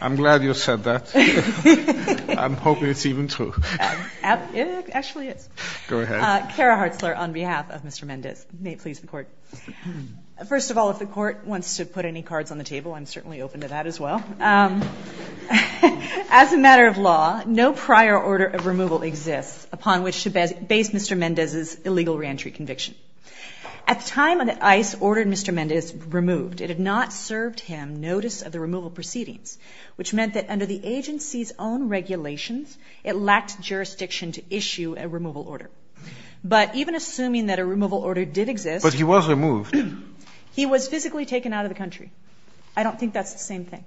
I'm glad you said that. I'm hoping it's even true. It actually is. Go ahead. Kara Hartzler on behalf of Mr. Mendez. May it please the Court. First of all, if the Court wants to put any cards on the table, I'm certainly open to that as well. As a matter of law, no prior order of removal exists upon which to base Mr. Mendez's illegal reentry conviction. At the time that ICE ordered Mr. Mendez removed, it had not served him notice of the removal proceedings, which meant that under the agency's own regulations, it lacked jurisdiction to issue a removal order. But even assuming that a removal order did exist. But he was removed. He was physically taken out of the country. I don't think that's the same thing.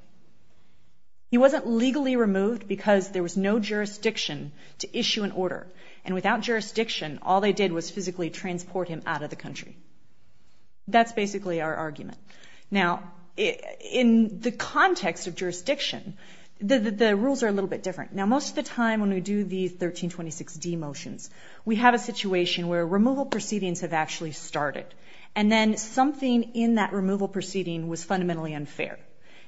He wasn't legally removed because there was no jurisdiction to issue an order. And without jurisdiction, all they did was physically transport him out of the country. That's basically our argument. Now, in the context of jurisdiction, the rules are a little bit different. Now, most of the time when we do the 1326d motions, we have a situation where removal proceedings have actually started. And then something in that removal proceeding was fundamentally unfair.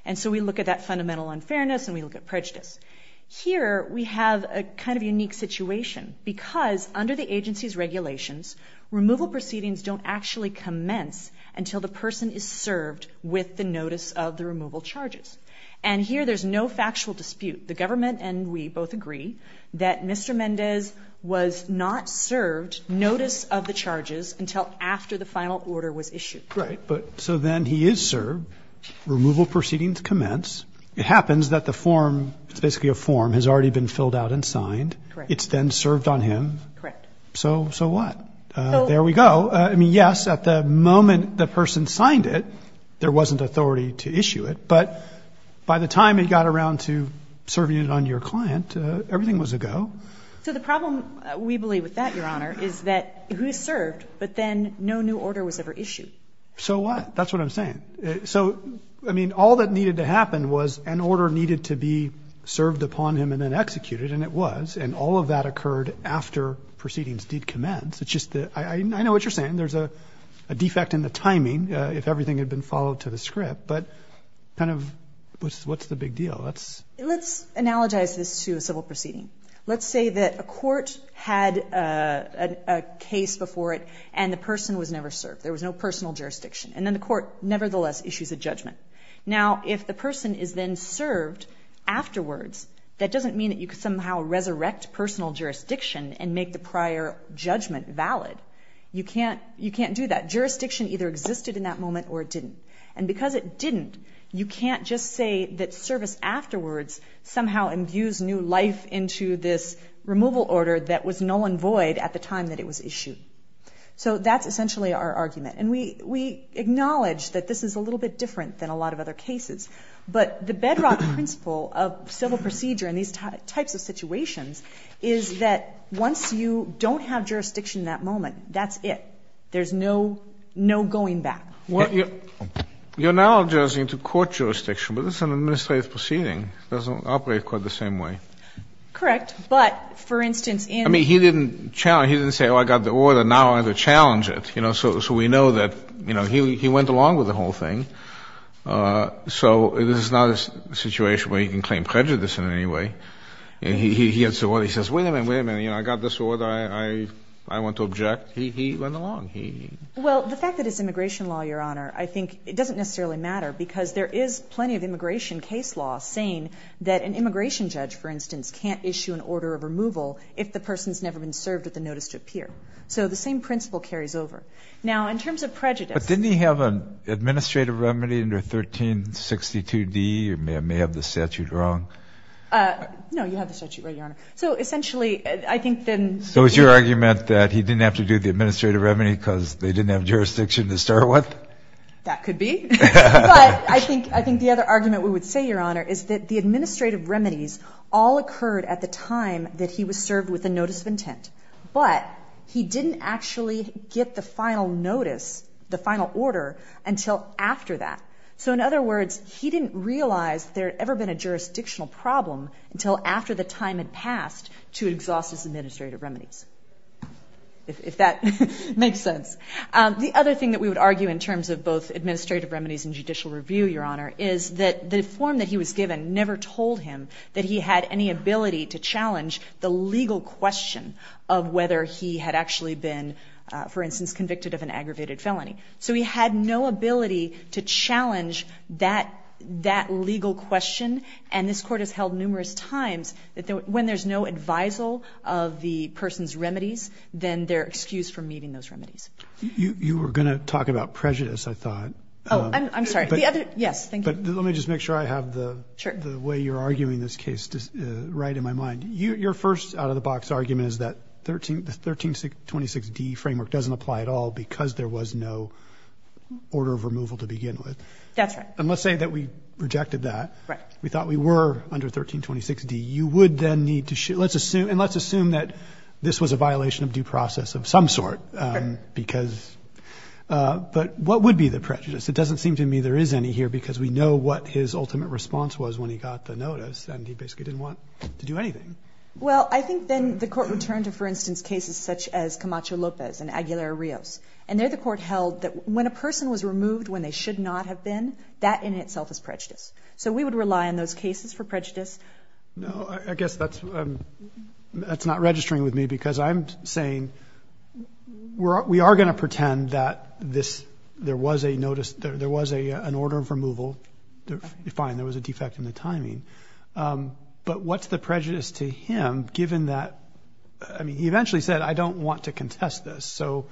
And so we look at that fundamental unfairness and we look at prejudice. Here we have a kind of unique situation because under the agency's regulations, removal proceedings don't actually commence until the person is served with the notice of the removal charges. And here there's no factual dispute. The government and we both agree that Mr. Mendez was not served notice of the charges until after the final order was issued. Right. So then he is served. Removal proceedings commence. It happens that the form, it's basically a form, has already been filled out and signed. Correct. It's then served on him. Correct. So what? There we go. I mean, yes, at the moment the person signed it, there wasn't authority to issue it. But by the time it got around to serving it on your client, everything was a go. So the problem, we believe, with that, Your Honor, is that he was served, but then no new order was ever issued. So what? That's what I'm saying. So, I mean, all that needed to happen was an order needed to be served upon him and then executed, and it was. And all of that occurred after proceedings did commence. It's just that I know what you're saying. There's a defect in the timing if everything had been followed to the script. But kind of what's the big deal? Let's analogize this to a civil proceeding. Let's say that a court had a case before it and the person was never served. There was no personal jurisdiction. And then the court nevertheless issues a judgment. Now, if the person is then served afterwards, that doesn't mean that you could somehow resurrect personal jurisdiction and make the prior judgment valid. You can't do that. Jurisdiction either existed in that moment or it didn't. And because it didn't, you can't just say that service afterwards somehow imbues new life into this removal order that was null and void at the time that it was issued. So that's essentially our argument. And we acknowledge that this is a little bit different than a lot of other cases. But the bedrock principle of civil procedure in these types of situations is that once you don't have jurisdiction in that moment, that's it. There's no going back. You're analogizing to court jurisdiction, but this is an administrative proceeding. It doesn't operate quite the same way. Correct. But, for instance, in the ---- I mean, he didn't challenge. He didn't say, oh, I got the order, now I'm going to challenge it. So we know that he went along with the whole thing. So this is not a situation where you can claim prejudice in any way. And he gets to where he says, wait a minute, wait a minute, I got this order, I want to object. He went along. Well, the fact that it's immigration law, Your Honor, I think it doesn't necessarily matter because there is plenty of immigration case law saying that an immigration judge, for instance, can't issue an order of removal if the person's never been served with a notice to appear. So the same principle carries over. Now, in terms of prejudice ---- But didn't he have an administrative remedy under 1362d? You may have the statute wrong. No, you have the statute right, Your Honor. So essentially, I think then ---- So is your argument that he didn't have to do the administrative remedy because they didn't have jurisdiction to start with? That could be. But I think the other argument we would say, Your Honor, is that the administrative remedies all occurred at the time that he was served with a notice of intent. But he didn't actually get the final notice, the final order, until after that. So in other words, he didn't realize there had ever been a jurisdictional problem until after the time had passed to exhaust his administrative remedies. If that makes sense. The other thing that we would argue in terms of both administrative remedies and judicial review, Your Honor, is that the form that he was given never told him that he had any ability to challenge the legal question of whether he had actually been, for instance, convicted of an aggravated felony. So he had no ability to challenge that legal question. And this Court has held numerous times that when there's no advisal of the person's remedies, then they're excused from meeting those remedies. You were going to talk about prejudice, I thought. Oh, I'm sorry. The other ---- Yes, thank you. But let me just make sure I have the way you're arguing this case right in my mind. Your first out-of-the-box argument is that the 1326d framework doesn't apply at all because there was no order of removal to begin with. That's right. And let's say that we rejected that. Right. We thought we were under 1326d. You would then need to ---- and let's assume that this was a violation of due process of some sort because ---- but what would be the prejudice? It doesn't seem to me there is any here because we know what his ultimate response was when he got the notice and he basically didn't want to do anything. Well, I think then the Court would turn to, for instance, cases such as Camacho Lopez and Aguilar Rios. And there the Court held that when a person was removed when they should not have been, that in itself is prejudice. So we would rely on those cases for prejudice. No, I guess that's not registering with me because I'm saying we are going to pretend that this ---- there was a notice, there was an order of removal. Fine, there was a defect in the timing. But what's the prejudice to him given that, I mean, he eventually said, I don't want to contest this. So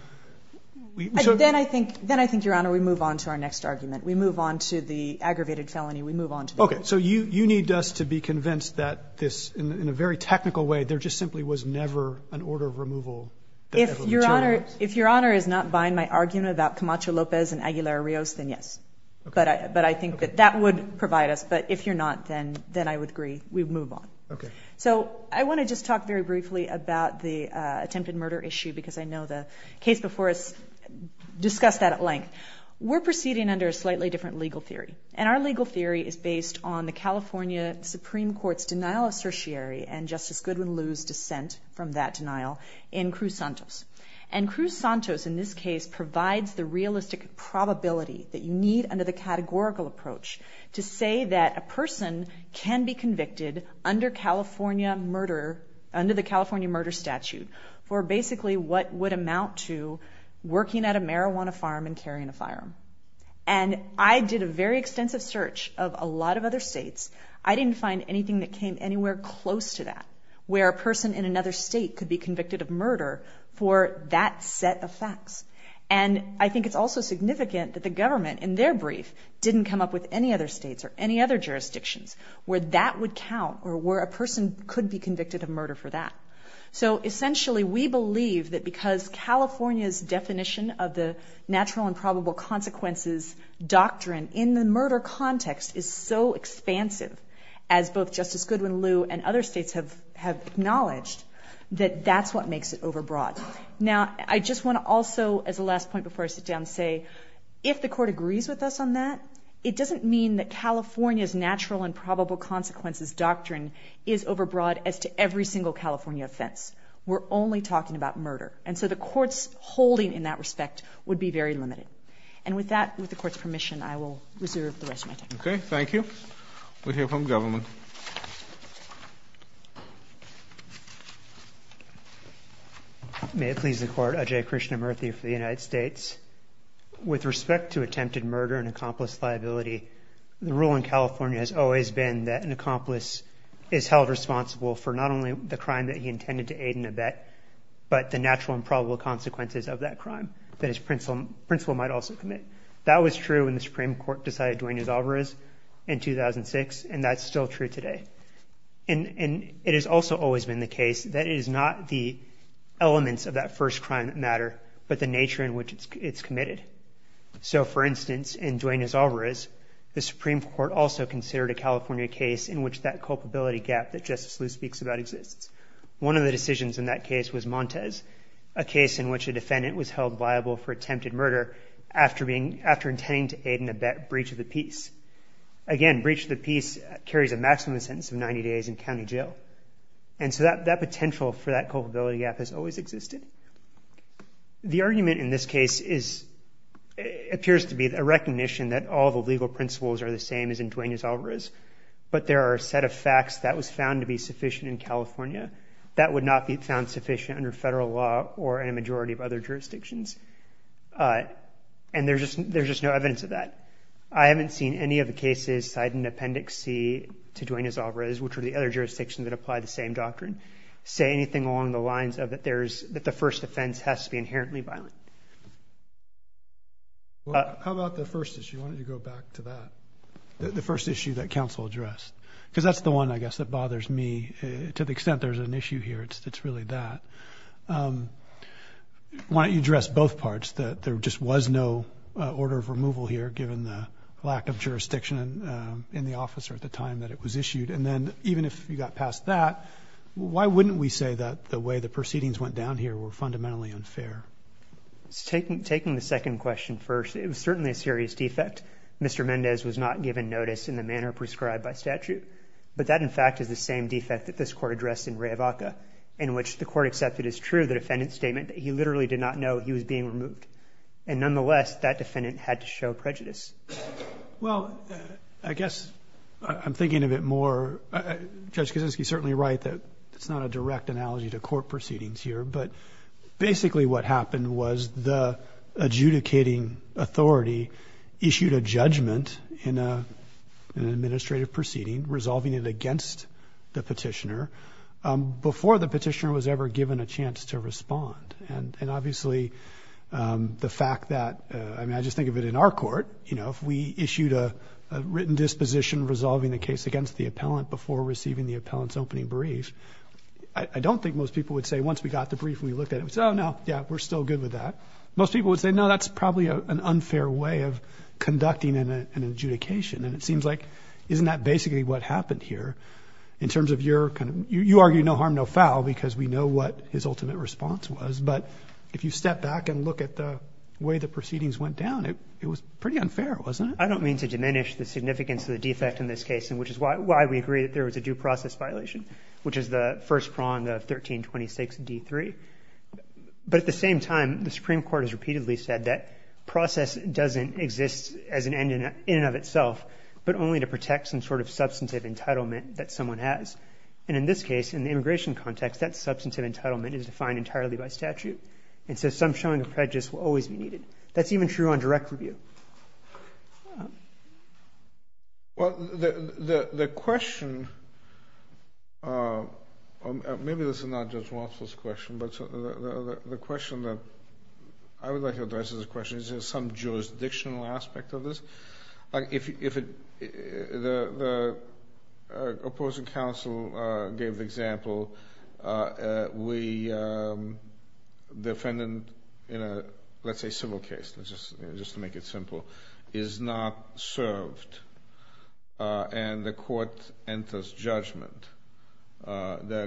we ---- Then I think, Your Honor, we move on to our next argument. We move on to the aggravated felony. We move on to the ---- Okay. So you need us to be convinced that this, in a very technical way, there just simply was never an order of removal that ever materialized. If Your Honor is not buying my argument about Camacho Lopez and Aguilar Rios, then yes. But I think that that would provide us. But if you're not, then I would agree we move on. Okay. So I want to just talk very briefly about the attempted murder issue because I know the case before us discussed that at length. We're proceeding under a slightly different legal theory. And our legal theory is based on the California Supreme Court's denial of certiary and Justice Goodwin Liu's dissent from that denial in Cruz-Santos. And Cruz-Santos in this case provides the realistic probability that you need under the categorical approach to say that a person can be convicted under California murder, under the California murder statute, for basically what would amount to working at a marijuana farm and carrying a firearm. And I did a very extensive search of a lot of other states. I didn't find anything that came anywhere close to that, where a person in another state could be convicted of murder for that set of facts. And I think it's also significant that the government, in their brief, didn't come up with any other states or any other jurisdictions where that would count or where a person could be convicted of murder for that. So essentially we believe that because California's definition of the natural and probable consequences doctrine in the murder context is so expansive, as both Justice Goodwin Liu and other states have acknowledged, that that's what makes it overbroad. Now I just want to also, as a last point before I sit down, say, if the Court agrees with us on that, it doesn't mean that California's natural and probable consequences doctrine is overbroad as to every single California offense. We're only talking about murder. And so the Court's holding in that respect would be very limited. And with that, with the Court's permission, I will reserve the rest of my time. Okay. Thank you. We'll hear from the government. May it please the Court. Ajay Krishnamurthy for the United States. With respect to attempted murder and accomplice liability, the rule in California has always been that an accomplice is held responsible for not only the crime that he intended to aid in a bet, but the natural and probable consequences of that crime that his principal might also commit. That was true when the Supreme Court decided Dwayne Azalvarez in 2006, and that's still true today. And it has also always been the case that it is not the elements of that first crime that matter, but the nature in which it's committed. So, for instance, in Dwayne Azalvarez, the Supreme Court also considered a California case in which that culpability gap that Justice Liu speaks about exists. One of the decisions in that case was Montez, a case in which a defendant was held viable for attempted murder after intending to aid in a bet breach of the peace. Again, breach of the peace carries a maximum sentence of 90 days in county jail. And so that potential for that culpability gap has always existed. The argument in this case appears to be a recognition that all the legal principles are the same as in Dwayne Azalvarez, but there are a set of facts that was found to be sufficient in California that would not be found sufficient under federal law or a majority of other jurisdictions. And there's just no evidence of that. I haven't seen any of the cases cite an appendix C to Dwayne Azalvarez, which are the other jurisdictions that apply the same doctrine, say anything along the lines of that the first offense has to be inherently violent. How about the first issue? I wanted to go back to that. The first issue that council addressed, because that's the one, I guess, that bothers me to the extent there's an issue here. It's really that. Why don't you address both parts that there just was no order of removal here given the lack of jurisdiction in the office or at the time that it was issued. And then even if you got past that, why wouldn't we say that the way the proceedings went down here were fundamentally unfair? Taking the second question first, it was certainly a serious defect. Mr. Mendez was not given notice in the manner prescribed by statute. But that in fact is the same defect that this court addressed in Riavaca, in which the court accepted as true, the defendant's statement that he literally did not know he was being removed. And nonetheless, that defendant had to show prejudice. Well, I guess I'm thinking of it more. Judge Kaczynski is certainly right that it's not a direct analogy to court proceedings here. But basically what happened was the adjudicating authority issued a judgment in an administrative proceeding, resolving it against the petitioner before the petitioner was ever given a chance to respond. And obviously the fact that, I mean, I just think of it in our court, you know, if we issued a written disposition resolving the case against the appellant before receiving the appellant's opening brief, I don't think most people would say once we got the brief and we looked at it, we said, oh no, yeah, we're still good with that. Most people would say, no, that's probably an unfair way of conducting an adjudication. And it seems like, isn't that basically what happened here in terms of your kind of, you argue no harm, no foul, because we know what his ultimate response was. But if you step back and look at the way the proceedings went down, it was pretty unfair, wasn't it? I don't mean to diminish the significance of the defect in this case, and which is why we agree that there was a due process violation, which is the first prong, the 1326 D3. But at the same time, the Supreme Court has repeatedly said that process doesn't exist as an end in and of itself, but only to protect some sort of substantive entitlement that someone has. And in this case, in the immigration context, that substantive entitlement is defined entirely by statute. And so some showing of prejudice will always be needed. That's even true on direct review. Thank you. Well, the question, maybe this is not Judge Walsh's question, but the question that I would like to address as a question, is there some jurisdictional aspect of this? If the opposing counsel gave the example, we defendant in a, let's say, civil case, just to make it simple, is not served, and the court enters judgment that there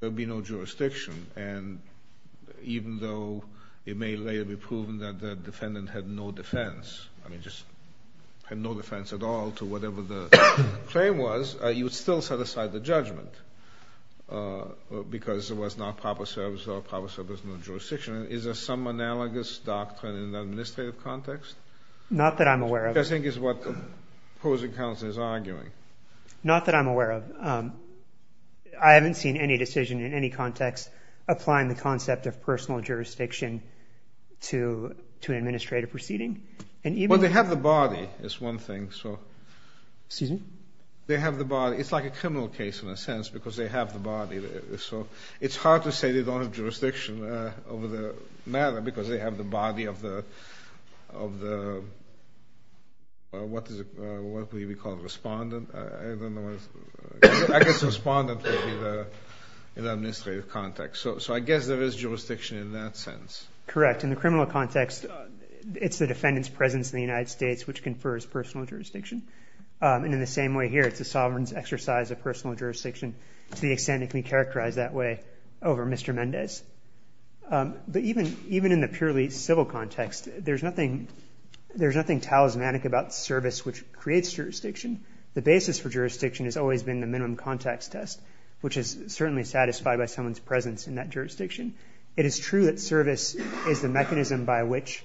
would be no jurisdiction, and even though it may later be proven that the defendant had no defense, I mean just had no defense at all to whatever the claim was, you would still set aside the judgment because it was not proper service, so there's no jurisdiction. Is there some analogous doctrine in the administrative context? Not that I'm aware of. Which I think is what the opposing counsel is arguing. Not that I'm aware of. I haven't seen any decision in any context applying the concept of personal jurisdiction to an administrative proceeding. Well, they have the body is one thing. Excuse me? It's like a criminal case in a sense because they have the body. So it's hard to say they don't have jurisdiction over the matter because they have the body of the, what do we call it, respondent? I don't know what it is. I guess respondent would be the administrative context. So I guess there is jurisdiction in that sense. Correct. In the criminal context, it's the defendant's presence in the United States which confers personal jurisdiction, and in the same way here it's the sovereign's exercise of personal jurisdiction to the extent it can be characterized that way over Mr. Mendez. But even in the purely civil context, there's nothing talismanic about service which creates jurisdiction. The basis for jurisdiction has always been the minimum context test which is certainly satisfied by someone's presence in that jurisdiction. It is true that service is the mechanism by which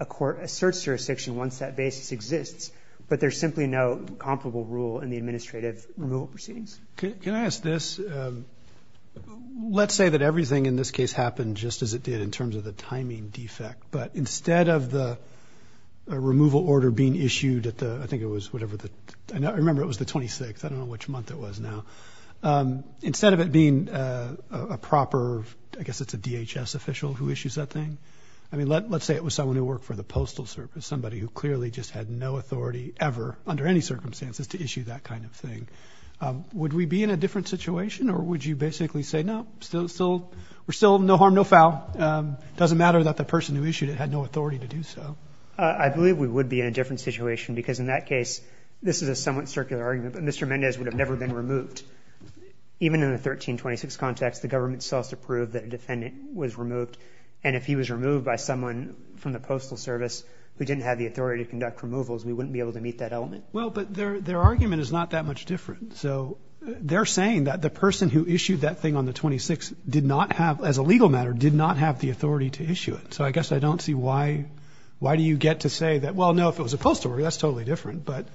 a court asserts jurisdiction once that basis exists, but there's simply no comparable rule in the administrative rule proceedings. Can I ask this? Let's say that everything in this case happened just as it did in terms of the timing defect, but instead of the removal order being issued at the, I think it was whatever, I remember it was the 26th, I don't know which month it was now. Instead of it being a proper, I guess it's a DHS official who issues that thing, let's say it was someone who worked for the Postal Service, somebody who clearly just had no authority ever under any circumstances to issue that kind of thing. Would we be in a different situation or would you basically say no? We're still no harm, no foul. It doesn't matter that the person who issued it had no authority to do so. I believe we would be in a different situation because in that case, this is a somewhat circular argument, but Mr. Mendez would have never been removed. Even in the 1326 context, the government still has to prove that a defendant was removed, and if he was removed by someone from the Postal Service who didn't have the authority to conduct removals, we wouldn't be able to meet that element. Well, but their argument is not that much different. So they're saying that the person who issued that thing on the 26th did not have, as a legal matter, did not have the authority to issue it. So I guess I don't see why do you get to say that, well, no, if it was a postal worker, that's totally different, but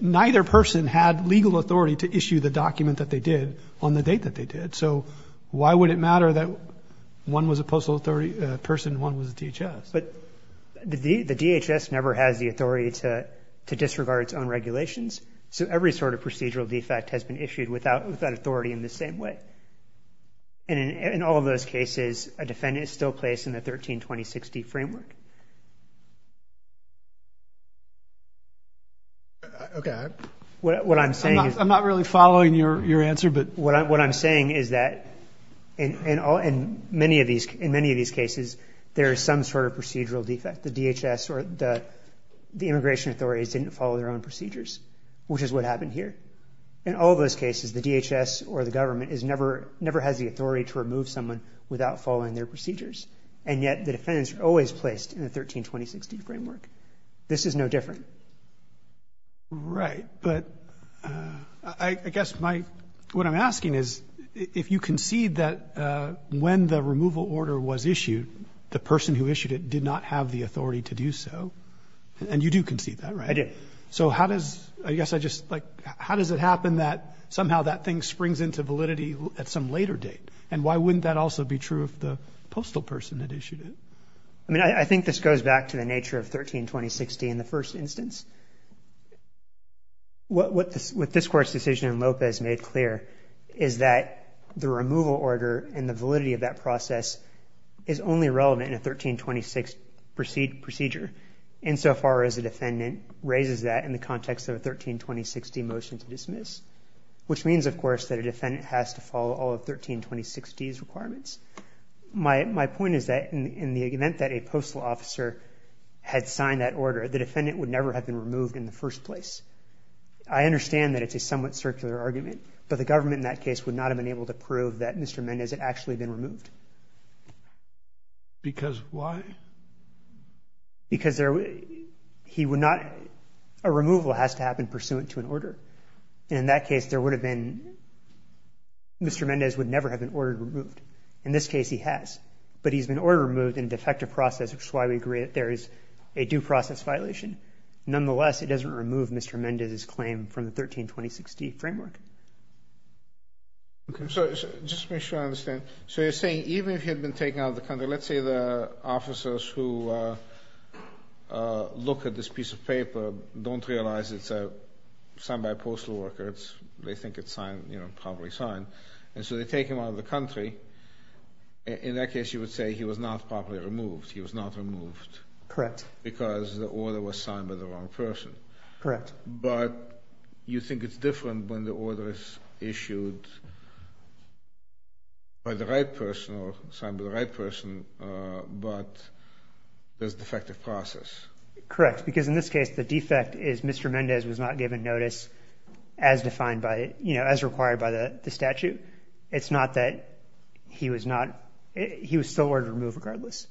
neither person had legal authority to issue the document that they did on the date that they did. So why would it matter that one was a postal authority person and one was a DHS? But the DHS never has the authority to disregard its own regulations, so every sort of procedural defect has been issued without authority in the same way. And in all of those cases, a defendant is still placed in the 1326D framework. Okay. What I'm saying is – I'm not really following your answer, but – What I'm saying is that in many of these cases, there is some sort of procedural defect. The DHS or the immigration authorities didn't follow their own procedures, which is what happened here. In all those cases, the DHS or the government never has the authority to remove someone without following their procedures, and yet the defendants are always placed in the 1326D framework. This is no different. Right, but I guess my – My question is, if you concede that when the removal order was issued, the person who issued it did not have the authority to do so, and you do concede that, right? I do. So how does – I guess I just – like, how does it happen that somehow that thing springs into validity at some later date? And why wouldn't that also be true if the postal person had issued it? I mean, I think this goes back to the nature of 1326D in the first instance. What this court's decision in Lopez made clear is that the removal order and the validity of that process is only relevant in a 1326 procedure, insofar as the defendant raises that in the context of a 1326D motion to dismiss, which means, of course, that a defendant has to follow all of 1326D's requirements. My point is that in the event that a postal officer had signed that order, the defendant would never have been removed in the first place. I understand that it's a somewhat circular argument, but the government in that case would not have been able to prove that Mr. Mendez had actually been removed. Because why? Because there – he would not – a removal has to happen pursuant to an order. In that case, there would have been – Mr. Mendez would never have been ordered removed. In this case, he has. But he's been ordered removed in a defective process, which is why we agree that there is a due process violation. Nonetheless, it doesn't remove Mr. Mendez's claim from the 1326D framework. Just to make sure I understand. So you're saying even if he had been taken out of the country, let's say the officers who look at this piece of paper don't realize it's signed by a postal worker. They think it's probably signed. And so they take him out of the country. In that case, you would say he was not properly removed. He was not removed. Correct. Because the order was signed by the wrong person. Correct. But you think it's different when the order is issued by the right person or signed by the right person, but there's a defective process. Correct. Because in this case, the defect is Mr. Mendez was not given notice as defined by – as required by the statute. It's not that he was not – he was still ordered to be removed regardless.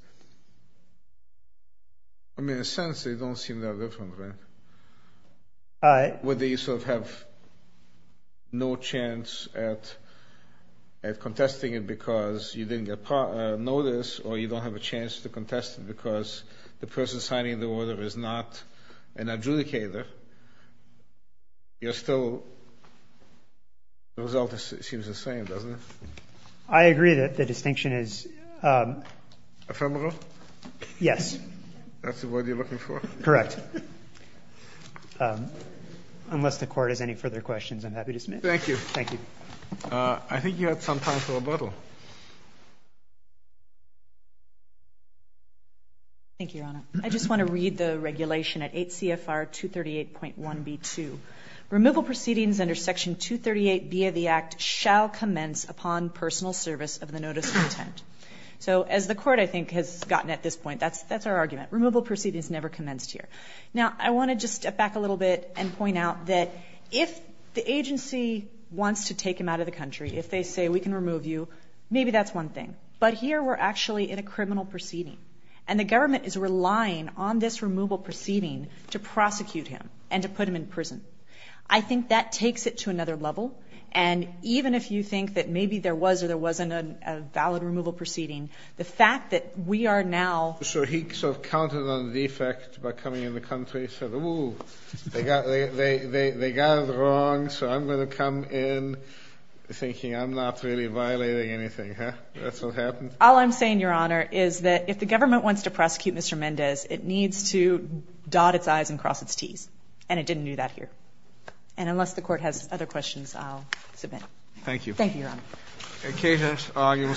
I mean, in a sense, they don't seem that different, right? Whether you sort of have no chance at contesting it because you didn't get notice or you don't have a chance to contest it because the person signing the order is not an adjudicator, you're still – the result seems the same, doesn't it? I agree that the distinction is – Ephemeral? Yes. That's what you're looking for? Correct. Unless the Court has any further questions, I'm happy to submit. Thank you. I think you had some time for rebuttal. Thank you, Your Honor. I just want to read the regulation at 8 CFR 238.1b2. Removal proceedings under Section 238B of the Act shall commence upon personal service of the notice of intent. So as the Court, I think, has gotten at this point, that's our argument. Removal proceedings never commenced here. Now, I want to just step back a little bit and point out that if the agency wants to take him out of the country, if they say we can remove you, maybe that's one thing. But here we're actually in a criminal proceeding, and the government is relying on this removal proceeding to prosecute him and to put him in prison. I think that takes it to another level, and even if you think that maybe there was or there wasn't a valid removal proceeding, the fact that we are now – So he sort of counted on the defect by coming in the country and said, ooh, they got it wrong, so I'm going to come in thinking I'm not really violating anything, huh? That's what happened? All I'm saying, Your Honor, is that if the government wants to prosecute Mr. Mendez, it needs to dot its I's and cross its T's, and it didn't do that here. And unless the Court has other questions, I'll submit. Thank you. Thank you, Your Honor.